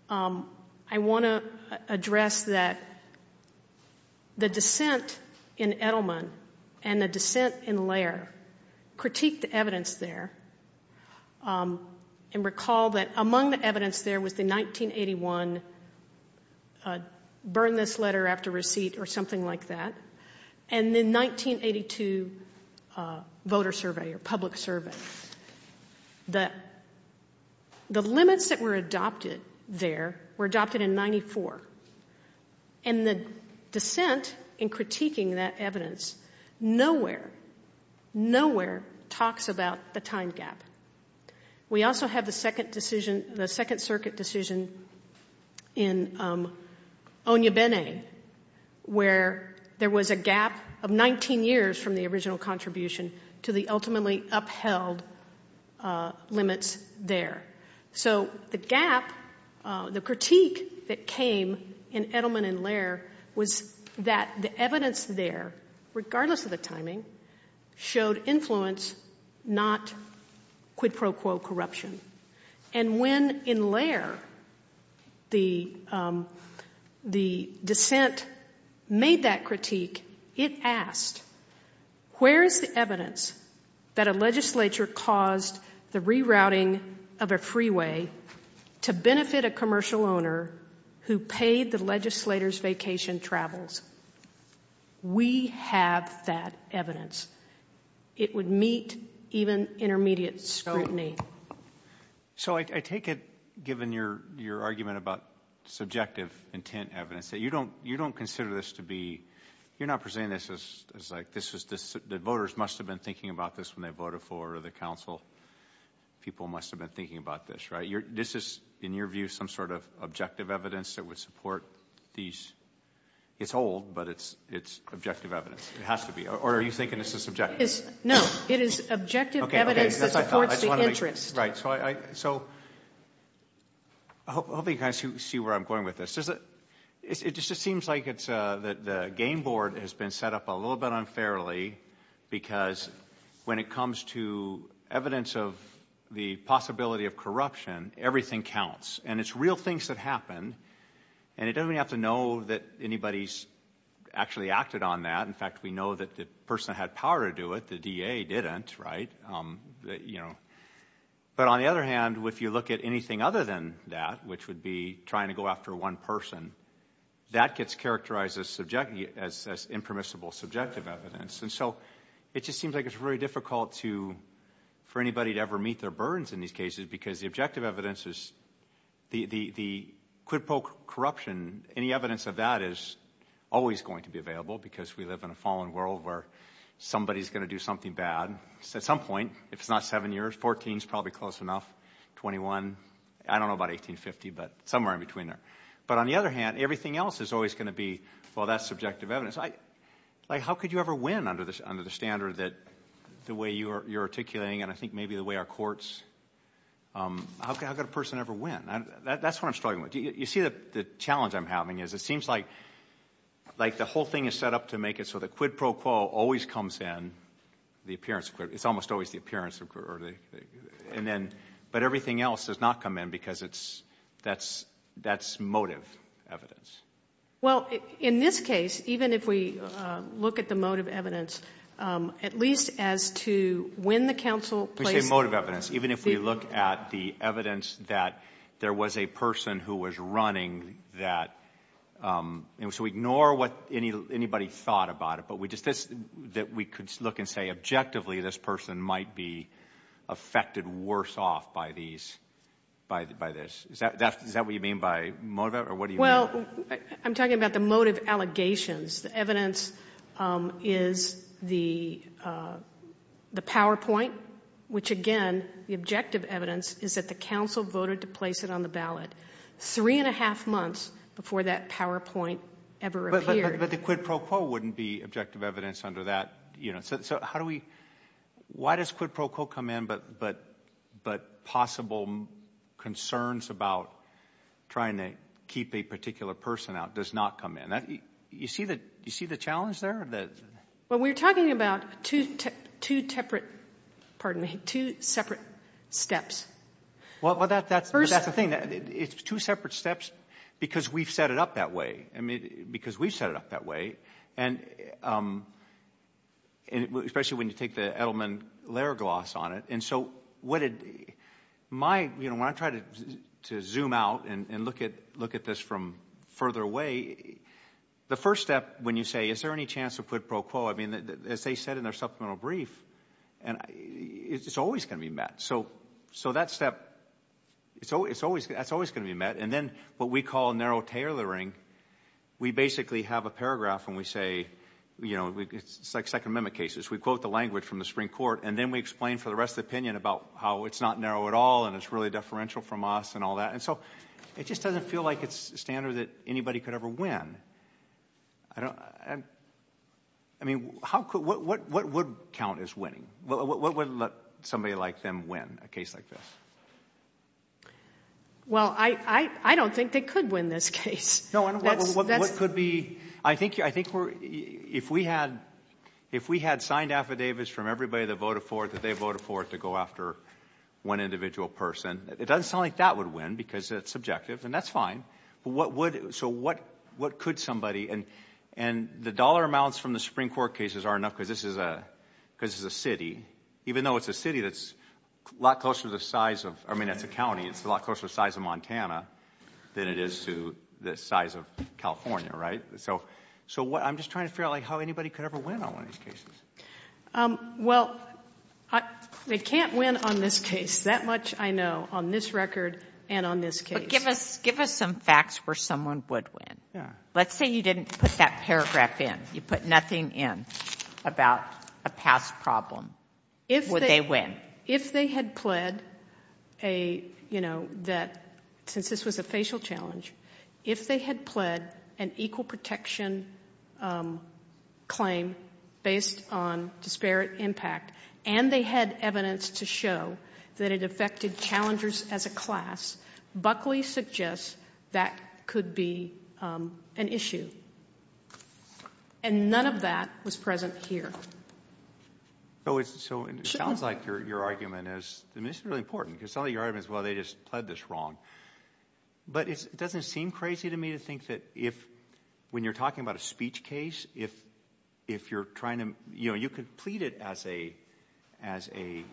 I want to address that the dissent in Edelman and the dissent in Laird critiqued the evidence there and recall that among the evidence there was the 1981 burn this letter after receipt or something like that and the 1982 voter survey or public survey. The limits that were adopted there were adopted in 94, and the dissent in critiquing that evidence nowhere, nowhere talks about the time gap. We also have the Second Circuit decision in Onyebene where there was a gap of 19 years from the original contribution to the ultimately upheld limits there. So the gap, the critique that came in Edelman and Laird was that the evidence there, regardless of the timing, showed influence, not quid pro quo corruption. And when in Laird the dissent made that critique, it asked, where is the evidence that a legislature caused the rerouting of a freeway to benefit a commercial owner who paid the legislator's vacation travels? We have that evidence. It would meet even intermediate scrutiny. So I take it, given your argument about subjective intent evidence, that you don't consider this to be, you're not presenting this as like, the voters must have been thinking about this when they voted for the council. People must have been thinking about this, right? This is, in your view, some sort of objective evidence that would support these. It's old, but it's objective evidence. It has to be. Or are you thinking this is subjective? No, it is objective evidence that supports the interest. Right, so I hope you can see where I'm going with this. It just seems like the game board has been set up a little bit unfairly because when it comes to evidence of the possibility of corruption, everything counts. And it's real things that happen, and it doesn't have to know that anybody's actually acted on that. In fact, we know that the person that had power to do it, the DA, didn't, right? But on the other hand, if you look at anything other than that, which would be trying to go after one person, that gets characterized as impermissible subjective evidence. And so it just seems like it's very difficult for anybody to ever meet their burdens in these cases because the objective evidence is the quid pro corruption. Any evidence of that is always going to be available because we live in a fallen world where somebody's going to do something bad. At some point, if it's not seven years, 14 is probably close enough, 21. I don't know about 1850, but somewhere in between there. But on the other hand, everything else is always going to be, well, that's subjective evidence. Like how could you ever win under the standard that the way you're articulating and I think maybe the way our courts, how could a person ever win? That's what I'm struggling with. You see the challenge I'm having is it seems like the whole thing is set up to make it always comes in, the appearance of quid, it's almost always the appearance of quid. But everything else does not come in because that's motive evidence. Well, in this case, even if we look at the motive evidence, at least as to when the counsel placed it. You say motive evidence. Even if we look at the evidence that there was a person who was running that. So ignore what anybody thought about it, but we could look and say objectively this person might be affected worse off by this. Is that what you mean by motive or what do you mean? Well, I'm talking about the motive allegations. The evidence is the PowerPoint, which again, the objective evidence, is that the counsel voted to place it on the ballot. Three and a half months before that PowerPoint ever appeared. But the quid pro quo wouldn't be objective evidence under that. So how do we, why does quid pro quo come in, but possible concerns about trying to keep a particular person out does not come in? You see the challenge there? Well, we're talking about two separate steps. Well, that's the thing. It's two separate steps because we've set it up that way. I mean, because we've set it up that way. And especially when you take the Edelman layer gloss on it. And so when I try to zoom out and look at this from further away, the first step when you say is there any chance of quid pro quo, I mean, as they said in their supplemental brief, it's always going to be met. So that step, that's always going to be met. And then what we call narrow tailoring, we basically have a paragraph and we say, you know, it's like Second Amendment cases. We quote the language from the Supreme Court and then we explain for the rest of the opinion about how it's not narrow at all and it's really deferential from us and all that. And so it just doesn't feel like it's standard that anybody could ever win. I mean, what would count as winning? What would let somebody like them win a case like this? Well, I don't think they could win this case. No, what could be? I think if we had signed affidavits from everybody that voted for it that they voted for it to go after one individual person, it doesn't sound like that would win because it's subjective and that's fine. So what could somebody, and the dollar amounts from the Supreme Court cases are enough because this is a city, even though it's a city that's a lot closer to the size of, I mean it's a county, it's a lot closer to the size of Montana than it is to the size of California, right? So I'm just trying to figure out like how anybody could ever win on one of these cases. Well, they can't win on this case. That much I know on this record and on this case. But give us some facts where someone would win. Let's say you didn't put that paragraph in. You put nothing in about a past problem. Would they win? If they had pled a, you know, that since this was a facial challenge, if they had pled an equal protection claim based on disparate impact and they had evidence to show that it affected challengers as a class, Buckley suggests that could be an issue. And none of that was present here. So it sounds like your argument is, I mean this is really important because some of your argument is, well, they just pled this wrong. But it doesn't seem crazy to me to think that if when you're talking about a speech case, if you're trying to, you know, you could plead it as a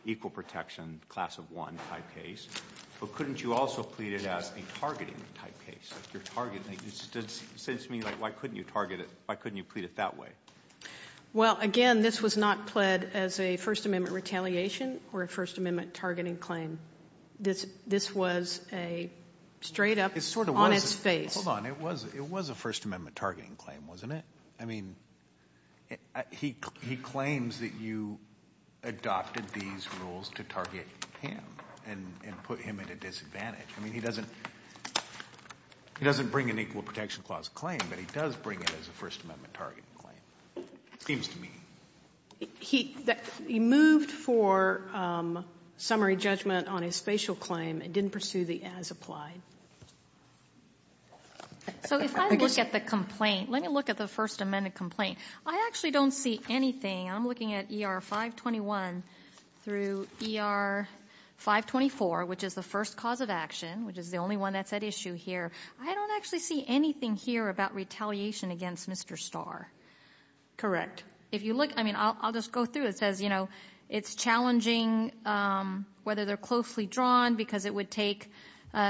equal protection class of one type case, but couldn't you also plead it as a targeting type case? It seems to me like why couldn't you target it? Why couldn't you plead it that way? Well, again, this was not pled as a First Amendment retaliation or a First Amendment targeting claim. This was a straight up on its face. Hold on. It was a First Amendment targeting claim, wasn't it? I mean he claims that you adopted these rules to target him and put him at a disadvantage. I mean he doesn't bring an equal protection clause claim, but he does bring it as a First Amendment targeting claim, seems to me. He moved for summary judgment on his spatial claim and didn't pursue the as applied. So if I look at the complaint, let me look at the First Amendment complaint. I actually don't see anything. I'm looking at ER 521 through ER 524, which is the first cause of action, which is the only one that's at issue here. I don't actually see anything here about retaliation against Mr. Starr. Correct. If you look, I mean I'll just go through it. It says, you know, it's challenging whether they're closely drawn because it would take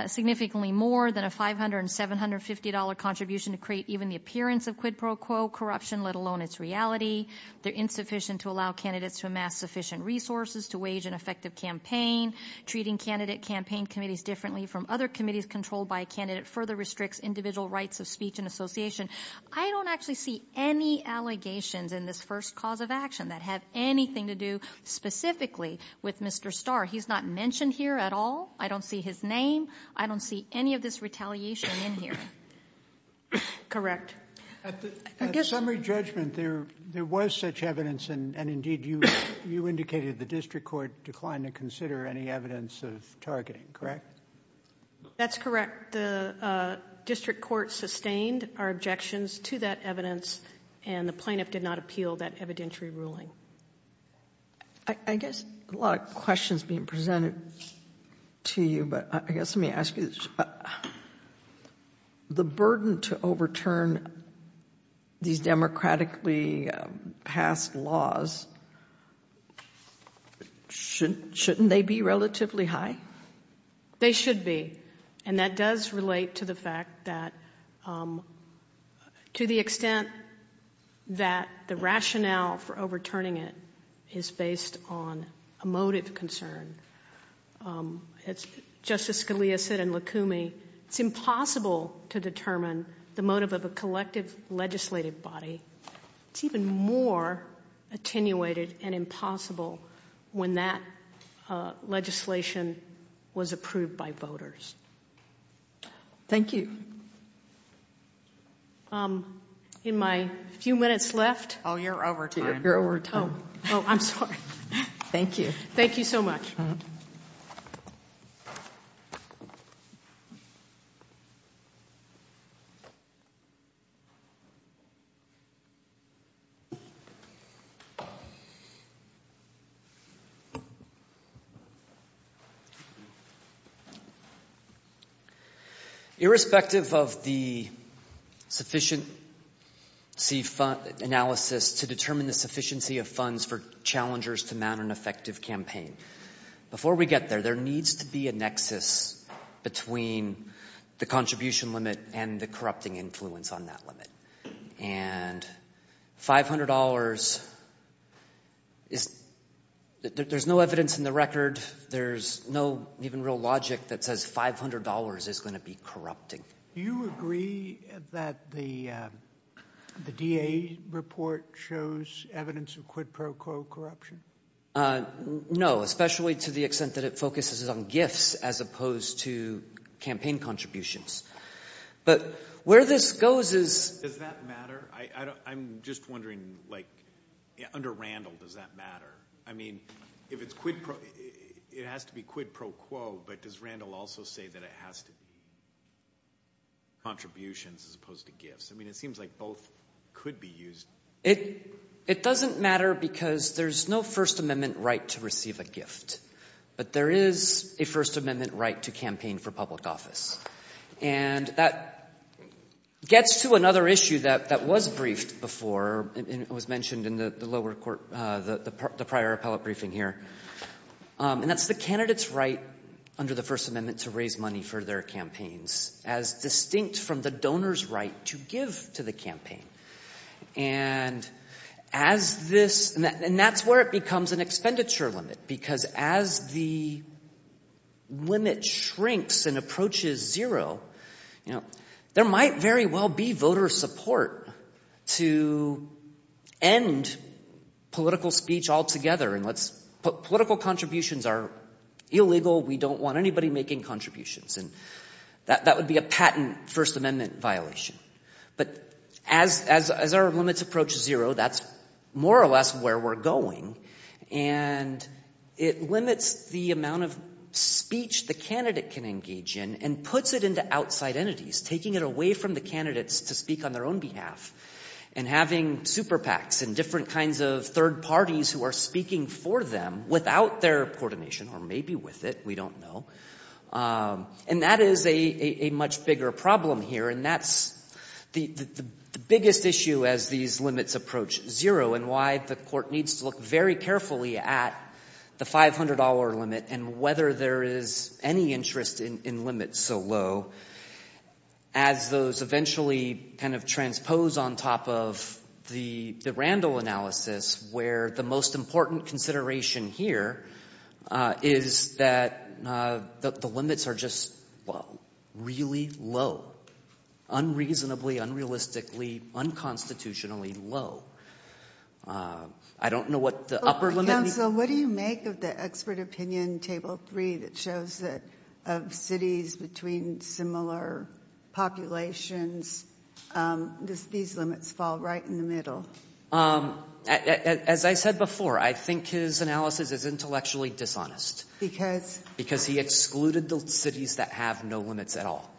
significantly more than a $500 and $750 contribution to create even the appearance of quid pro quo corruption, let alone its reality. They're insufficient to allow candidates to amass sufficient resources to wage an effective campaign. Treating candidate campaign committees differently from other committees controlled by a candidate further restricts individual rights of speech and association. I don't actually see any allegations in this first cause of action that have anything to do specifically with Mr. Starr. He's not mentioned here at all. I don't see his name. I don't see any of this retaliation in here. Correct. At the summary judgment there was such evidence, and indeed you indicated the district court declined to consider any evidence of targeting, correct? That's correct. The district court sustained our objections to that evidence, and the plaintiff did not appeal that evidentiary ruling. I guess a lot of questions being presented to you, but I guess let me ask you this. The burden to overturn these democratically passed laws, shouldn't they be relatively high? They should be, and that does relate to the fact that to the extent that the rationale for overturning it is based on a motive concern. As Justice Scalia said in Lukumi, it's impossible to determine the motive of a collective legislative body. It's even more attenuated and impossible when that legislation was approved by voters. Thank you. In my few minutes left. Oh, you're over time. Oh, I'm sorry. Thank you. Thank you so much. Irrespective of the sufficient analysis to determine the sufficiency of funds for challengers to mount an effective campaign, before we get there, there needs to be a nexus between the contribution limit and the corrupting influence on that limit. And $500, there's no evidence in the record, there's no even real logic that says $500 is going to be corrupting. Do you agree that the DA report shows evidence of quid pro quo corruption? No, especially to the extent that it focuses on gifts as opposed to campaign contributions. But where this goes is- Does that matter? I'm just wondering, under Randall, does that matter? I mean, if it's quid pro- it has to be quid pro quo, but does Randall also say that it has to be contributions as opposed to gifts? I mean, it seems like both could be used. It doesn't matter because there's no First Amendment right to receive a gift. But there is a First Amendment right to campaign for public office. And that gets to another issue that was briefed before, and it was mentioned in the lower court, the prior appellate briefing here, and that's the candidate's right under the First Amendment to raise money for their campaigns as distinct from the donor's right to give to the campaign. And as this- and that's where it becomes an expenditure limit because as the limit shrinks and approaches zero, there might very well be voter support to end political speech altogether and let's- political contributions are illegal. We don't want anybody making contributions, and that would be a patent First Amendment violation. But as our limits approach zero, that's more or less where we're going, and it limits the amount of speech the candidate can engage in and puts it into outside entities, taking it away from the candidates to speak on their own behalf and having super PACs and different kinds of third parties who are speaking for them without their coordination or maybe with it, we don't know. And that is a much bigger problem here, and that's the biggest issue as these limits approach zero and why the court needs to look very carefully at the $500 limit and whether there is any interest in limits so low as those eventually kind of transpose on top of the Randall analysis where the most important consideration here is that the limits are just really low, unreasonably, unrealistically, unconstitutionally low. I don't know what the upper limit means. So what do you make of the expert opinion in Table 3 that shows that of cities between similar populations, these limits fall right in the middle? As I said before, I think his analysis is intellectually dishonest. Because? Because he excluded the cities that have no limits at all.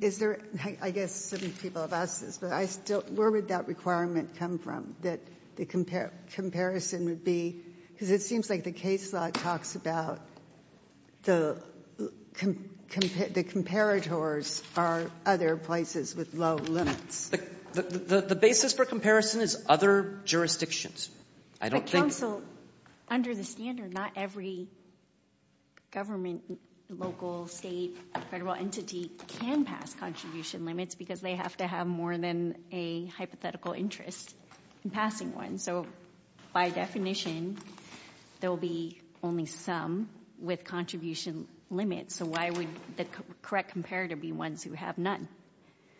Is there, I guess some people have asked this, but where would that requirement come from, that the comparison would be? Because it seems like the case law talks about the comparators are other places with low limits. The basis for comparison is other jurisdictions. But counsel, under the standard, not every government, local, state, federal entity can pass contribution limits because they have to have more than a hypothetical interest in passing one. So by definition, there will be only some with contribution limits. So why would the correct comparator be ones who have none?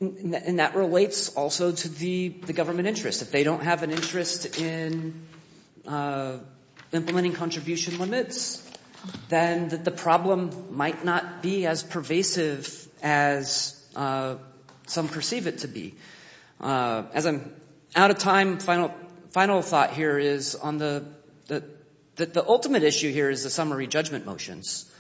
And that relates also to the government interest. If they don't have an interest in implementing contribution limits, then the problem might not be as pervasive as some perceive it to be. As I'm out of time, final thought here is on the ultimate issue here is the summary judgment motions.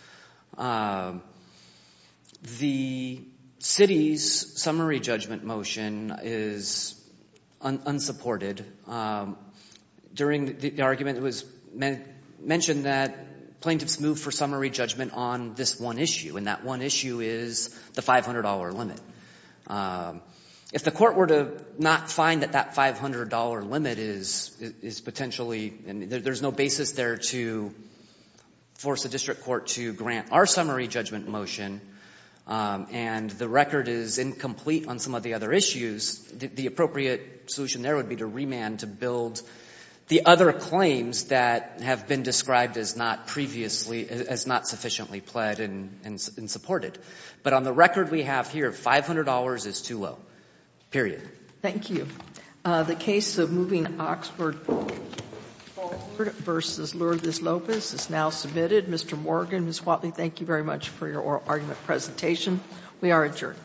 The city's summary judgment motion is unsupported. During the argument, it was mentioned that plaintiffs move for summary judgment on this one issue, and that one issue is the $500 limit. If the court were to not find that that $500 limit is potentially, there's no basis there to force the district court to grant our summary judgment motion, and the record is incomplete on some of the other issues, the appropriate solution there would be to remand to build the other claims that have been described as not sufficiently pled and supported. But on the record we have here, $500 is too low, period. Thank you. The case of moving Oxford versus Lourdes Lopez is now submitted. Mr. Morgan, Ms. Whatley, thank you very much for your oral argument presentation. We are adjourned.